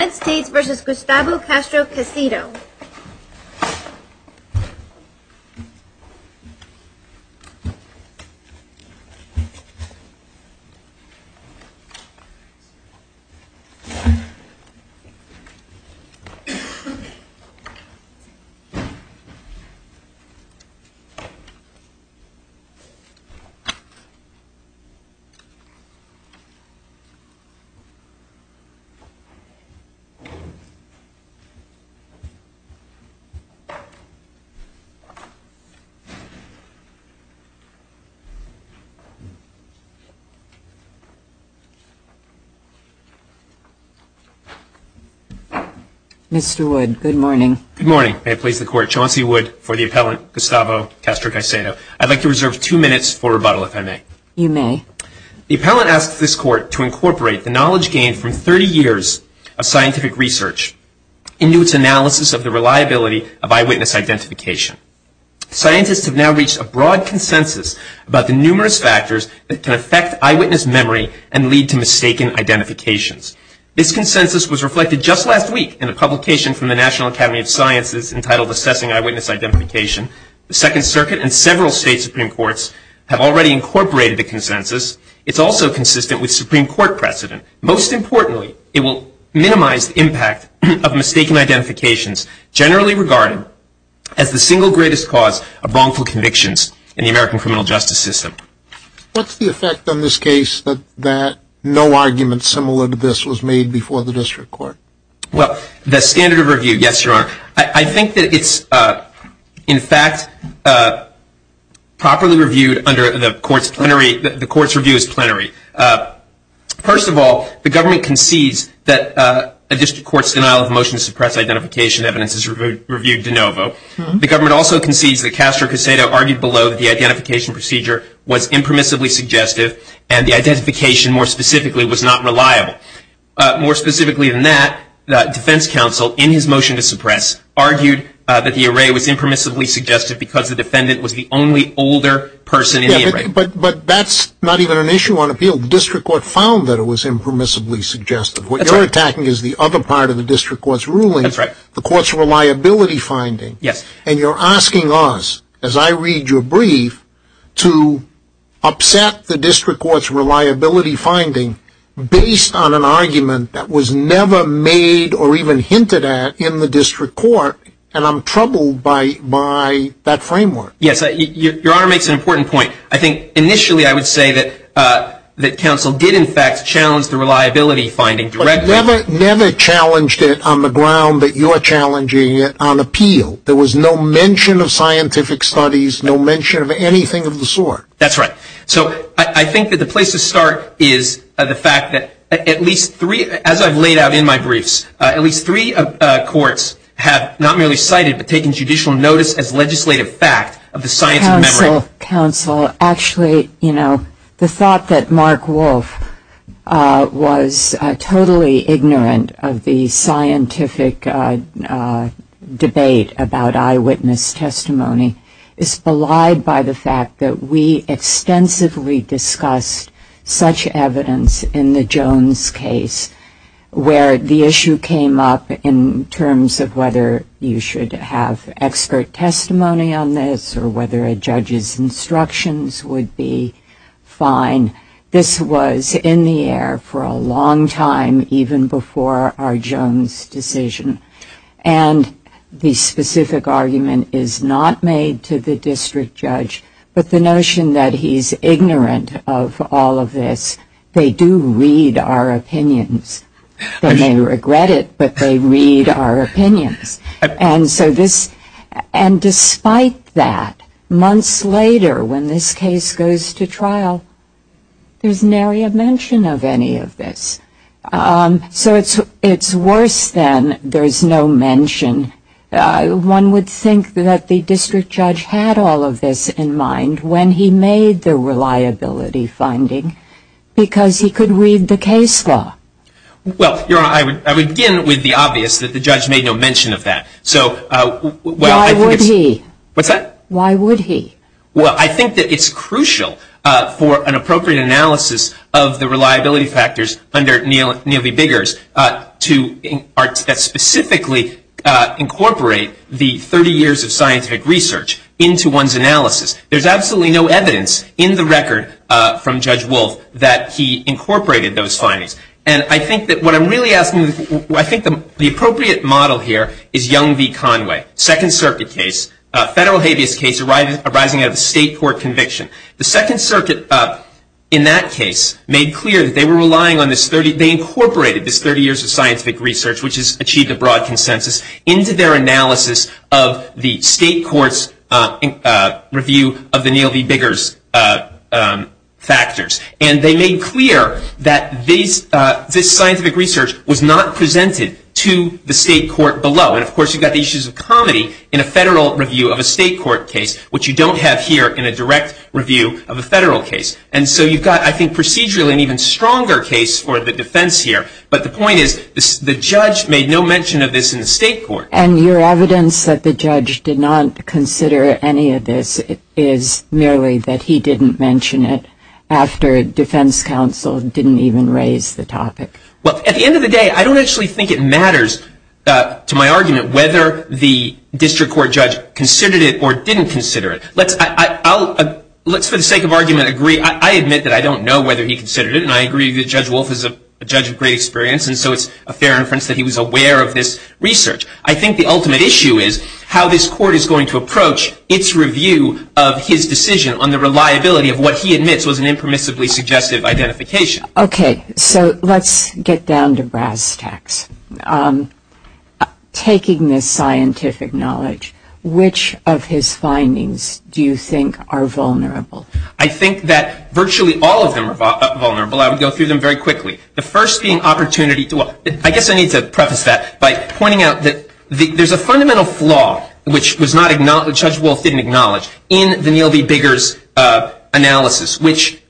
United States v. Gustavo Castro-Caicedo Mr. Wood, good morning. Good morning. May it please the Court, Chauncey Wood for the Appellant Gustavo Castro-Caicedo. I'd like to reserve two minutes for rebuttal, if I may. You may. The Appellant asks this Court to incorporate the knowledge gained from 30 years of scientific research into its analysis of the reliability of eyewitness identification. Scientists have now reached a broad consensus about the numerous factors that can affect eyewitness memory and lead to mistaken identifications. This consensus was reflected just last week in a publication from the National Academy of Sciences entitled Assessing Eyewitness Identification. The Second Circuit and several State Supreme Courts have already incorporated the consensus. It's also consistent with Supreme Court precedent. Most importantly, it will minimize the impact of mistaken identifications generally regarded as the single greatest cause of wrongful convictions in the American criminal justice system. What's the effect on this case that no argument similar to this was made before the District Court? I think that it's, in fact, properly reviewed under the Court's plenary. The Court's review is plenary. First of all, the government concedes that a District Court's denial of motion to suppress identification evidence is reviewed de novo. The government also concedes that Castro-Caicedo argued below that the identification procedure was impermissibly suggestive and the identification, more specifically, was not reliable. More specifically than that, the Defense Counsel, in his motion to suppress, argued that the array was impermissibly suggestive because the defendant was the only older person in the array. But that's not even an issue on appeal. The District Court found that it was impermissibly suggestive. What you're attacking is the other part of the District Court's ruling, the Court's reliability finding. to upset the District Court's reliability finding based on an argument that was never made or even hinted at in the District Court, and I'm troubled by that framework. Yes, Your Honor makes an important point. I think initially I would say that counsel did, in fact, challenge the reliability finding directly. But you never challenged it on the ground that you're challenging it on appeal. There was no mention of scientific studies, no mention of anything of the sort. That's right. So I think that the place to start is the fact that at least three, as I've laid out in my briefs, at least three courts have not merely cited but taken judicial notice as legislative fact of the science of memory. Actually, you know, the thought that Mark Wolfe was totally ignorant of the scientific debate about eyewitness testimony is belied by the fact that we extensively discussed such evidence in the Jones case, where the issue came up in terms of whether you should have expert testimony on this or whether a judge's instructions would be fine. This was in the air for a long time, even before our Jones decision, and the specific argument is not made to the district judge. But the notion that he's ignorant of all of this, they do read our opinions. They may regret it, but they read our opinions. And so this, and despite that, months later when this case goes to trial, there's nary a mention of any of this. So it's worse than there's no mention. One would think that the district judge had all of this in mind when he made the reliability finding, because he could read the case law. Well, Your Honor, I would begin with the obvious, that the judge made no mention of that. Why would he? Well, I think that it's crucial for an appropriate analysis of the reliability factors under Neal v. Biggers to specifically incorporate the 30 years of scientific research into one's analysis. There's absolutely no evidence in the record from Judge Wolf that he incorporated those findings. And I think that what I'm really asking, I think the appropriate model here is Young v. Conway, Second Circuit case, a federal habeas case arising out of a state court conviction. The Second Circuit in that case made clear that they were relying on this 30, they incorporated this 30 years of scientific research, which has achieved a broad consensus, into their analysis of the state court's review of the Neal v. Biggers factors. And they made clear that this scientific research was not presented to the state court below. And of course, you've got the issues of comedy in a federal review of a state court case, which you don't have here in a direct review of a federal case. And so you've got, I think, procedurally an even stronger case for the defense here. But the point is, the judge made no mention of this in the state court. And your evidence that the judge did not consider any of this is merely that he didn't mention it after defense counsel didn't even raise the topic. Well, at the end of the day, I don't actually think it matters to my argument whether the district court judge considered it or didn't consider it. Let's, for the sake of argument, agree, I admit that I don't know whether he considered it, and I agree that Judge Wolf is a judge of great experience, and so it's a fair inference that he was aware of this research. I think the ultimate issue is how this court is going to approach its review of his decision on the reliability of what he admits was an impermissibly suggestive identification. Okay, so let's get down to brass tacks. Taking this scientific knowledge, which of his findings do you think are vulnerable? I think that virtually all of them are vulnerable. I would go through them very quickly. The first being opportunity. I guess I need to preface that by pointing out that there's a fundamental flaw, which Judge Wolf didn't acknowledge, in the Neil B. Biggers analysis, which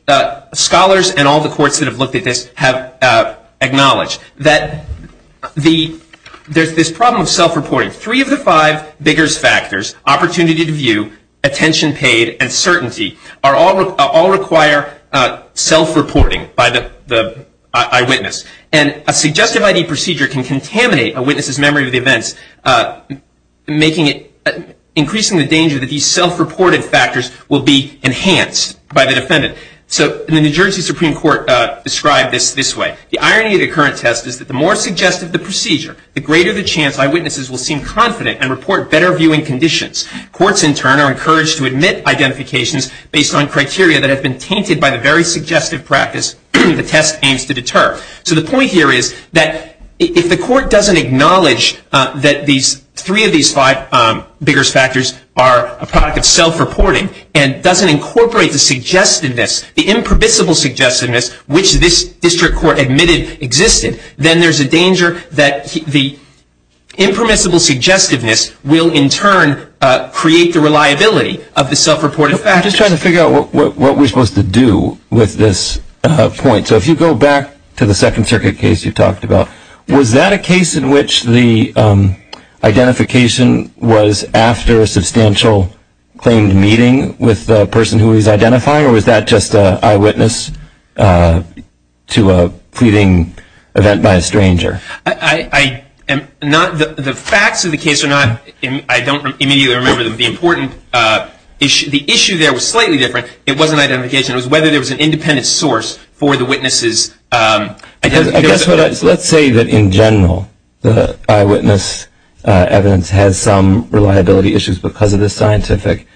scholars and all the courts that have looked at this have acknowledged, that there's this problem of self-reporting. Three of the five Biggers factors, opportunity to view, attention paid, and certainty, all require self-reporting by the eyewitness. And a suggestive ID procedure can contaminate a witness's memory of the events, increasing the danger that these self-reported factors will be enhanced by the defendant. So the New Jersey Supreme Court described this this way. The irony of the current test is that the more suggestive the procedure, the greater the chance eyewitnesses will seem confident and report better viewing conditions. Courts, in turn, are encouraged to admit identifications based on criteria that have been tainted by the very suggestive practice the test aims to deter. So the point here is that if the court doesn't acknowledge that three of these five Biggers factors are a product of self-reporting, and doesn't incorporate the suggestiveness, the impermissible suggestiveness, which this district court admitted existed, then there's a danger that the impermissible suggestiveness will, in turn, create the reliability of the self-reported factors. I'm just trying to figure out what we're supposed to do with this point. So if you go back to the Second Circuit case you talked about, was that a case in which the identification was after a substantial claimed meeting with the person who he was identifying? Or was that just an eyewitness to a pleading event by a stranger? The facts of the case are not, I don't immediately remember them. The issue there was slightly different. It wasn't identification. It was whether there was an independent source for the witnesses. Let's say that, in general, the eyewitness evidence has some reliability issues because of the scientific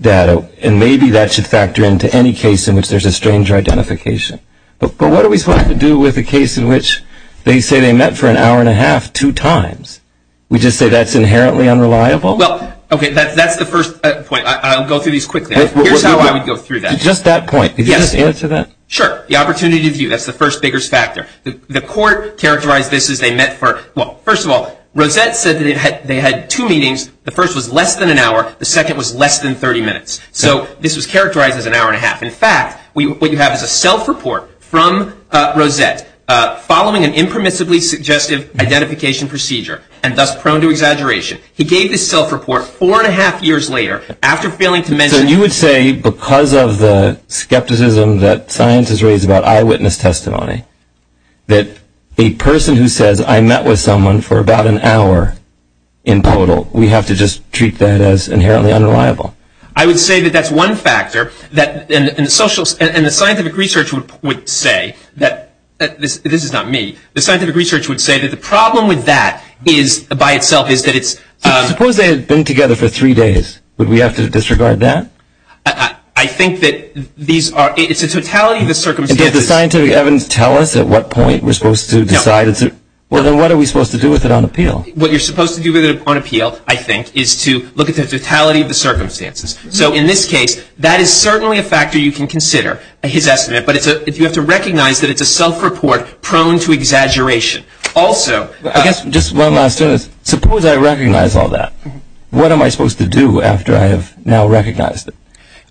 data. And maybe that should factor into any case in which there's a stranger identification. But what are we supposed to do with a case in which they say they met for an hour and a half two times? We just say that's inherently unreliable? Well, OK, that's the first point. I'll go through these quickly. Here's how I would go through that. Just that point. Could you just answer that? Sure. The opportunity to view. That's the first Biggers factor. The court characterized this as they met for, well, first of all, Rosette said that they had two meetings. The first was less than an hour. The second was less than 30 minutes. So this was characterized as an hour and a half. In fact, what you have is a self-report from Rosette following an impermissibly suggestive identification procedure and thus prone to exaggeration. He gave this self-report four and a half years later after failing to mention So you would say because of the skepticism that science has raised about eyewitness testimony, that a person who says I met with someone for about an hour in total, we have to just treat that as inherently unreliable? I would say that that's one factor. And the scientific research would say that, this is not me, the scientific research would say that the problem with that by itself is that it's Suppose they had been together for three days. Would we have to disregard that? I think that these are, it's a totality of the circumstances. And did the scientific evidence tell us at what point we're supposed to decide? No. Well, then what are we supposed to do with it on appeal? What you're supposed to do with it on appeal, I think, is to look at the totality of the circumstances. So in this case, that is certainly a factor you can consider, his estimate, but you have to recognize that it's a self-report prone to exaggeration. Also, I guess just one last sentence. Suppose I recognize all that. What am I supposed to do after I have now recognized it?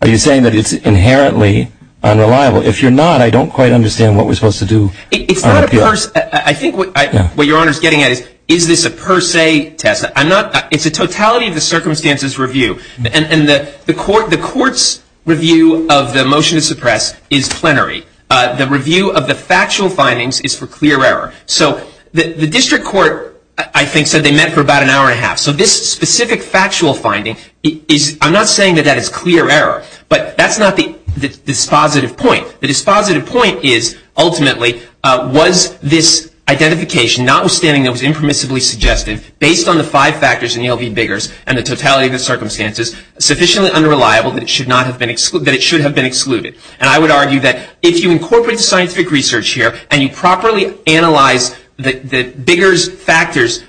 Are you saying that it's inherently unreliable? If you're not, I don't quite understand what we're supposed to do on appeal. It's not a, I think what your Honor is getting at is, is this a per se test? I'm not, it's a totality of the circumstances review. And the court's review of the motion to suppress is plenary. The review of the factual findings is for clear error. So the district court, I think, said they met for about an hour and a half. So this specific factual finding is, I'm not saying that that is clear error, but that's not the dispositive point. The dispositive point is, ultimately, was this identification, notwithstanding it was impermissibly suggestive, based on the five factors in the LV Biggers and the totality of the circumstances, sufficiently unreliable that it should have been excluded. And I would argue that if you incorporate the scientific research here and you properly analyze the Biggers factors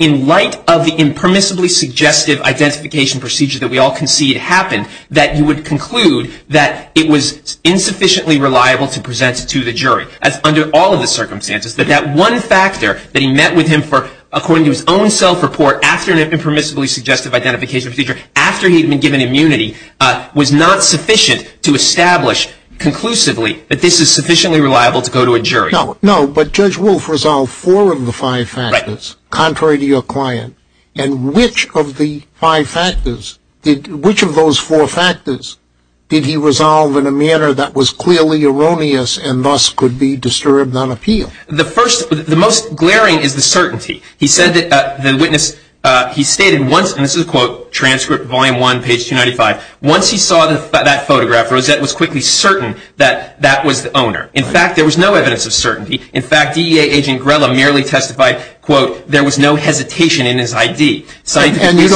in light of the impermissibly suggestive identification procedure that we all concede happened, that you would conclude that it was insufficiently reliable to present it to the jury, as under all of the circumstances, that that one factor that he met with him for, according to his own self-report, after an impermissibly suggestive identification procedure, after he had been given immunity, was not sufficient to establish conclusively that this is sufficiently reliable to go to a jury. No, but Judge Wolf resolved four of the five factors contrary to your client. And which of the five factors, which of those four factors, did he resolve in a manner that was clearly erroneous and thus could be disturbed on appeal? The first, the most glaring is the certainty. He said that the witness, he stated once, and this is a quote, transcript, volume one, page 295, once he saw that photograph, Rosette was quickly certain that that was the owner. In fact, there was no evidence of certainty. In fact, DEA agent Grella merely testified, quote, there was no hesitation in his ID. And you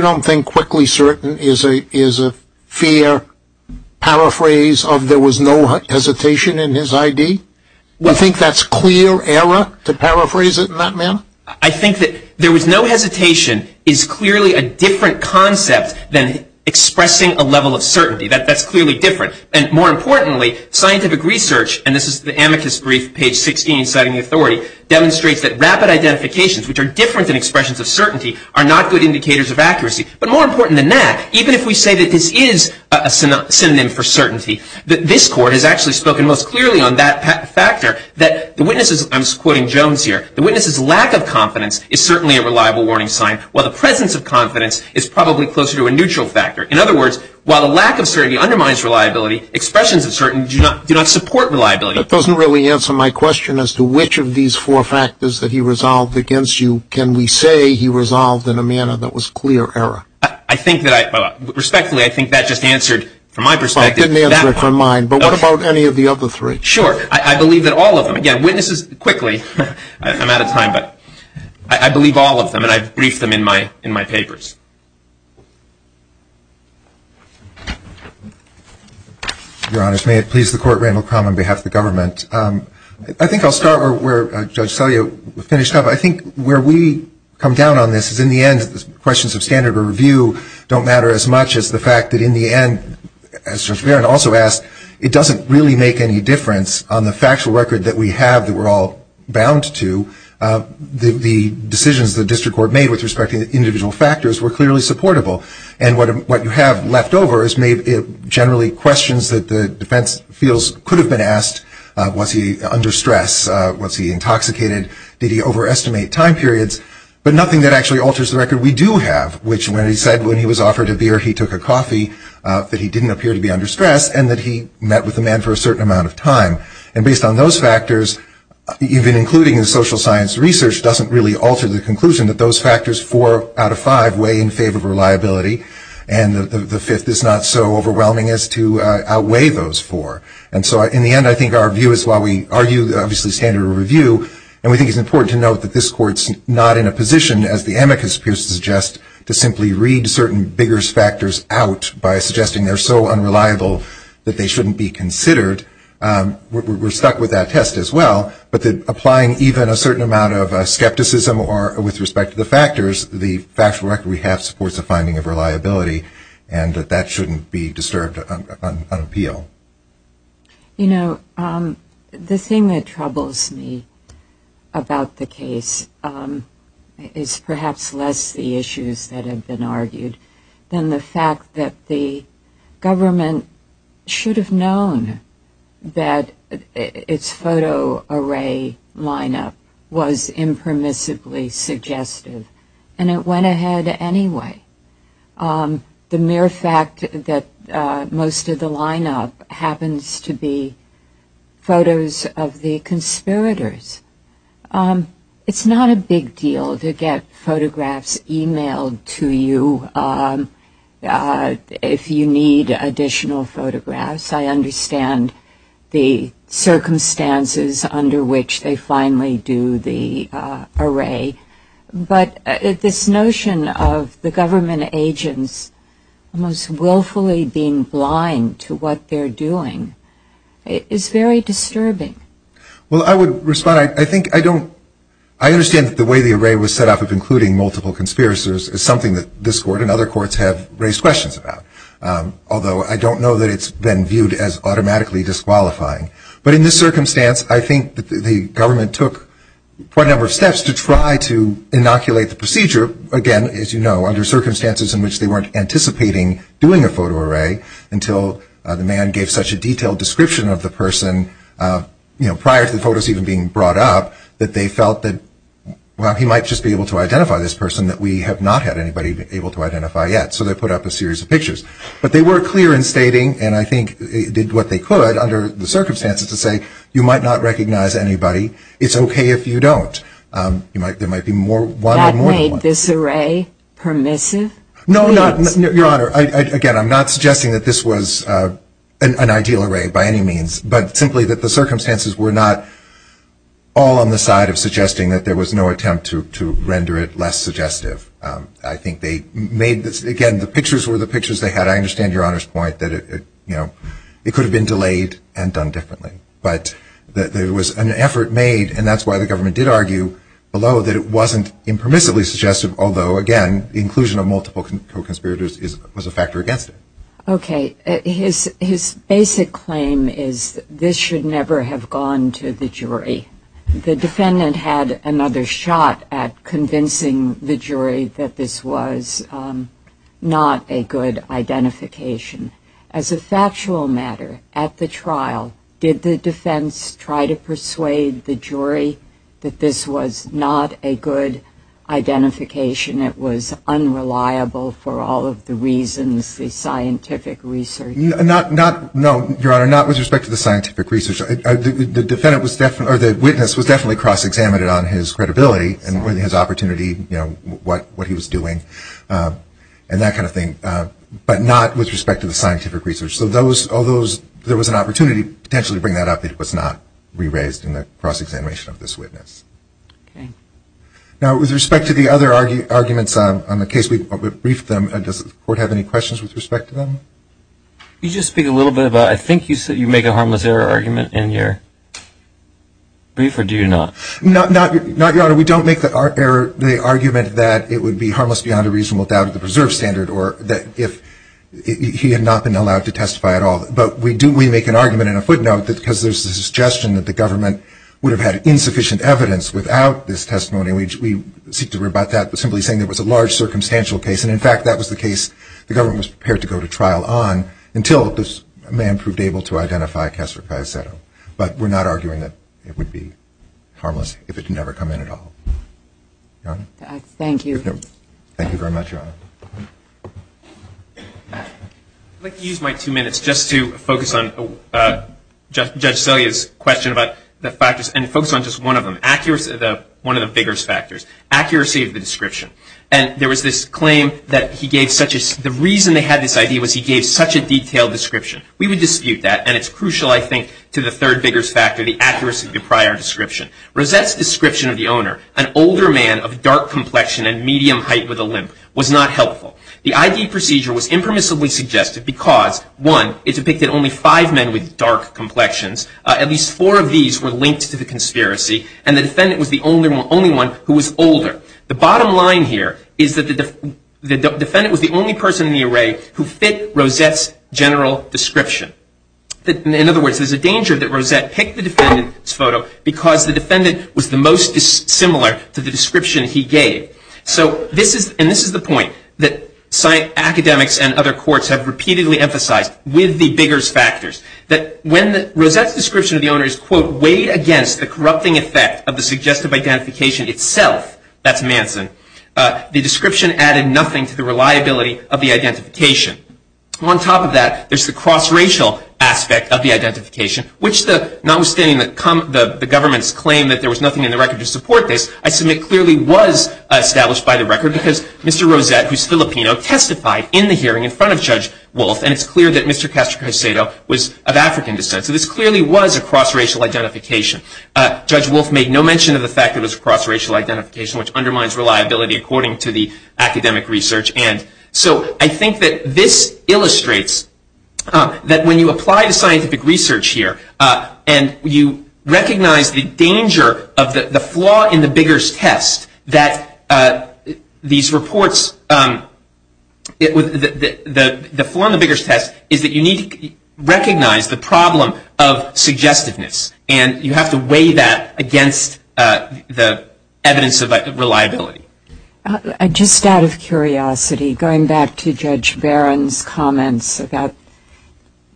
don't think quickly certain is a fair paraphrase of there was no hesitation in his ID? You think that's clear error to paraphrase it in that manner? I think that there was no hesitation is clearly a different concept than expressing a level of certainty. That's clearly different. And more importantly, scientific research, and this is the amicus brief, page 16, citing authority, demonstrates that rapid identifications, which are different than expressions of certainty, are not good indicators of accuracy. But more important than that, even if we say that this is a synonym for certainty, that this court has actually spoken most clearly on that factor that the witness is, I'm quoting Jones here, the witness's lack of confidence is certainly a reliable warning sign, while the presence of confidence is probably closer to a neutral factor. In other words, while a lack of certainty undermines reliability, expressions of certainty do not support reliability. That doesn't really answer my question as to which of these four factors that he resolved against you, can we say he resolved in a manner that was clear error? I think that I, respectfully, I think that just answered, from my perspective. It didn't answer it from mine, but what about any of the other three? Sure. I believe that all of them, again, witnesses, quickly, I'm out of time, but I believe all of them, and I've briefed them in my papers. Your Honors, may it please the Court, Randall Crum on behalf of the government. I think I'll start where Judge Saliu finished up. I think where we come down on this is, in the end, the questions of standard of review don't matter as much as the fact that, in the end, as Judge Barron also asked, it doesn't really make any difference on the factual record that we have that we're all bound to the decisions the district court made with respect to individual factors were clearly supportable. And what you have left over is generally questions that the defense feels could have been asked. Was he under stress? Was he intoxicated? Did he overestimate time periods? But nothing that actually alters the record we do have, which when he said when he was offered a beer, he took a coffee, that he didn't appear to be under stress, and that he met with the man for a certain amount of time. And based on those factors, even including the social science research, doesn't really alter the conclusion that those factors, four out of five, weigh in favor of reliability, and the fifth is not so overwhelming as to outweigh those four. And so, in the end, I think our view is while we argue, obviously, standard of review, and we think it's important to note that this Court's not in a position, as the amicus appears to suggest, to simply read certain bigger factors out by suggesting they're so unreliable that they shouldn't be considered. We're stuck with that test as well, but applying even a certain amount of skepticism with respect to the factors, the factual record we have supports a finding of reliability, and that that shouldn't be disturbed on appeal. You know, the thing that troubles me about the case is perhaps less the issues that have been argued than the fact that the government should have known that its photo array lineup was impermissibly suggestive, and it went ahead anyway. The mere fact that most of the lineup happens to be photos of the conspirators, it's not a big deal to get photographs emailed to you if you need additional photographs. I understand the circumstances under which they finally do the array, but this notion of the government agents almost willfully being blind to what they're doing is very disturbing. Well, I would respond. I think I don't – I understand that the way the array was set up of including multiple conspirators is something that this Court and other courts have raised questions about, although I don't know that it's been viewed as automatically disqualifying. But in this circumstance, I think the government took quite a number of steps to try to inoculate the procedure, again, as you know, under circumstances in which they weren't anticipating doing a photo array until the man gave such a detailed description of the person prior to the photos even being brought up that they felt that, well, he might just be able to identify this person that we have not had anybody able to identify yet. So they put up a series of pictures. But they were clear in stating, and I think they did what they could under the circumstances to say, you might not recognize anybody. It's okay if you don't. There might be one or more than one. That made this array permissive? No, Your Honor. Again, I'm not suggesting that this was an ideal array by any means, but simply that the circumstances were not all on the side of suggesting that there was no attempt to render it less suggestive. I think they made this, again, the pictures were the pictures they had. I understand Your Honor's point that it could have been delayed and done differently. But there was an effort made, and that's why the government did argue below that it wasn't impermissibly suggestive, although, again, the inclusion of multiple co-conspirators was a factor against it. Okay. His basic claim is this should never have gone to the jury. The defendant had another shot at convincing the jury that this was not a good identification. As a factual matter, at the trial, did the defense try to persuade the jury that this was not a good identification? It was unreliable for all of the reasons, the scientific research. No, Your Honor, not with respect to the scientific research. The witness was definitely cross-examined on his credibility and his opportunity, what he was doing, and that kind of thing, but not with respect to the scientific research. So although there was an opportunity potentially to bring that up, it was not re-raised in the cross-examination of this witness. Okay. Now, with respect to the other arguments on the case, we've briefed them. Does the Court have any questions with respect to them? Could you just speak a little bit about, I think you make a harmless error argument in your brief, or do you not? No, Your Honor, we don't make the argument that it would be harmless beyond a reasonable doubt of the preserved standard or that if he had not been allowed to testify at all. But we do make an argument and a footnote that because there's a suggestion that the government would have had insufficient evidence without this testimony, we seek to rebut that by simply saying there was a large circumstantial case. And, in fact, that was the case the government was prepared to go to trial on until this man proved able to identify Kessler-Caicedo. But we're not arguing that it would be harmless if it had never come in at all. Your Honor? Thank you. Thank you very much, Your Honor. I'd like to use my two minutes just to focus on Judge Celia's question about the factors and focus on just one of them, one of the vigorous factors, accuracy of the description. And there was this claim that he gave such a – the reason they had this idea was he gave such a detailed description. We would dispute that, and it's crucial, I think, to the third vigorous factor, the accuracy of the prior description. Rosette's description of the owner, an older man of dark complexion and medium height with a limp, was not helpful. The ID procedure was impermissibly suggested because, one, it depicted only five men with dark complexions. At least four of these were linked to the conspiracy, and the defendant was the only one who was older. The bottom line here is that the defendant was the only person in the array who fit Rosette's general description. In other words, there's a danger that Rosette picked the defendant's photo because the defendant was the most similar to the description he gave. So this is – and this is the point that academics and other courts have repeatedly emphasized with the vigorous factors, that when Rosette's description of the owner is, quote, weighed against the corrupting effect of the suggestive identification itself – that's Manson – the description added nothing to the reliability of the identification. On top of that, there's the cross-racial aspect of the identification, which, notwithstanding the government's claim that there was nothing in the record to support this, I submit clearly was established by the record because Mr. Rosette, who's Filipino, testified in the hearing in front of Judge Wolf, and it's clear that Mr. Castro-Caicedo was of African descent. So this clearly was a cross-racial identification. Judge Wolf made no mention of the fact that it was a cross-racial identification, which undermines reliability according to the academic research. And so I think that this illustrates that when you apply the scientific research here and you recognize the danger of the flaw in the vigorous test that these reports – the flaw in the vigorous test is that you need to recognize the problem of suggestiveness, and you have to weigh that against the evidence of reliability. Just out of curiosity, going back to Judge Barron's comments about –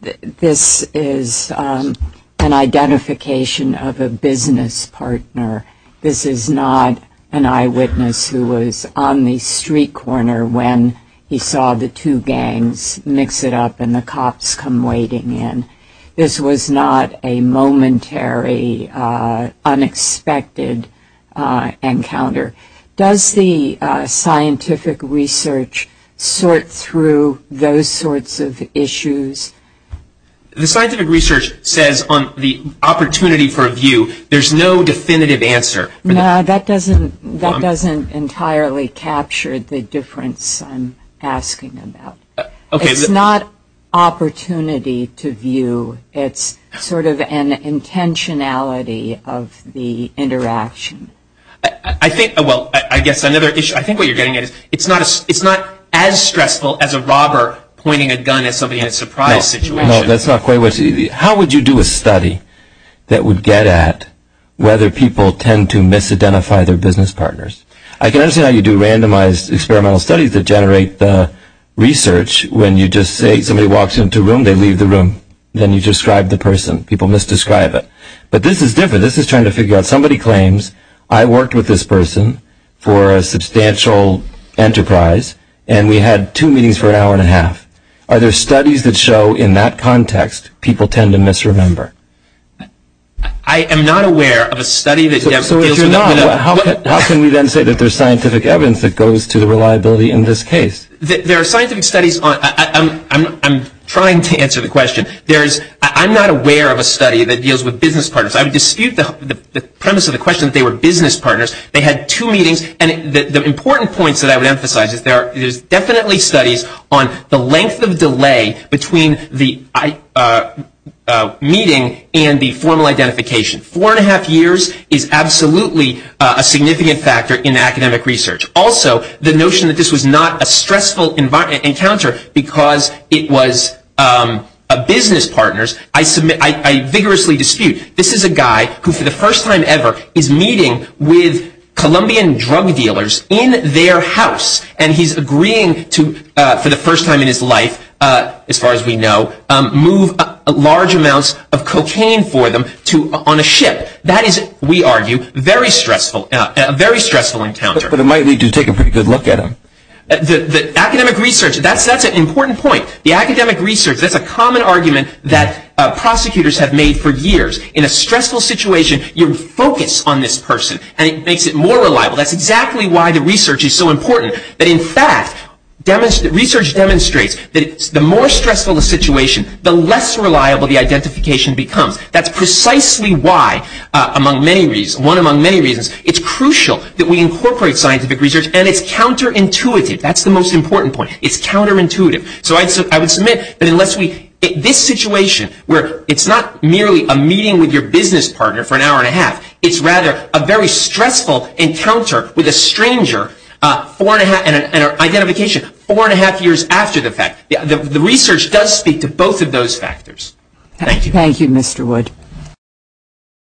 this is an identification of a business partner. This is not an eyewitness who was on the street corner when he saw the two gangs mix it up and the cops come waiting in. This was not a momentary, unexpected encounter. Does the scientific research sort through those sorts of issues? The scientific research says on the opportunity for a view, there's no definitive answer. No, that doesn't entirely capture the difference I'm asking about. It's not opportunity to view. It's sort of an intentionality of the interaction. I think – well, I guess another issue – I think what you're getting at is it's not as stressful as a robber pointing a gun at somebody in a surprise situation. No, that's not quite what you – how would you do a study that would get at whether people tend to misidentify their business partners? I can understand how you do randomized experimental studies that generate the research when you just say somebody walks into a room, they leave the room. Then you describe the person. People misdescribe it. But this is different. This is trying to figure out somebody claims I worked with this person for a substantial enterprise and we had two meetings for an hour and a half. Are there studies that show in that context people tend to misremember? I am not aware of a study that – So if you're not, how can we then say that there's scientific evidence that goes to the reliability in this case? There are scientific studies on – I'm trying to answer the question. There's – I'm not aware of a study that deals with business partners. I would dispute the premise of the question that they were business partners. They had two meetings. And the important points that I would emphasize is there's definitely studies on the length of delay between the meeting and the formal identification. Four and a half years is absolutely a significant factor in academic research. Also, the notion that this was not a stressful encounter because it was business partners, I vigorously dispute. This is a guy who for the first time ever is meeting with Colombian drug dealers in their house. And he's agreeing to, for the first time in his life, as far as we know, move large amounts of cocaine for them on a ship. That is, we argue, a very stressful encounter. But it might lead you to take a pretty good look at him. Academic research, that's an important point. The academic research, that's a common argument that prosecutors have made for years. In a stressful situation, you focus on this person and it makes it more reliable. That's exactly why the research is so important. But in fact, research demonstrates that the more stressful the situation, the less reliable the identification becomes. That's precisely why, among many reasons, one among many reasons, it's crucial that we incorporate scientific research and it's counterintuitive. That's the most important point. It's counterintuitive. So I would submit that unless we, this situation where it's not merely a meeting with your business partner for an hour and a half, it's rather a very stressful encounter with a stranger and an identification four and a half years after the fact. The research does speak to both of those factors. Thank you. Thank you, Mr. Wood.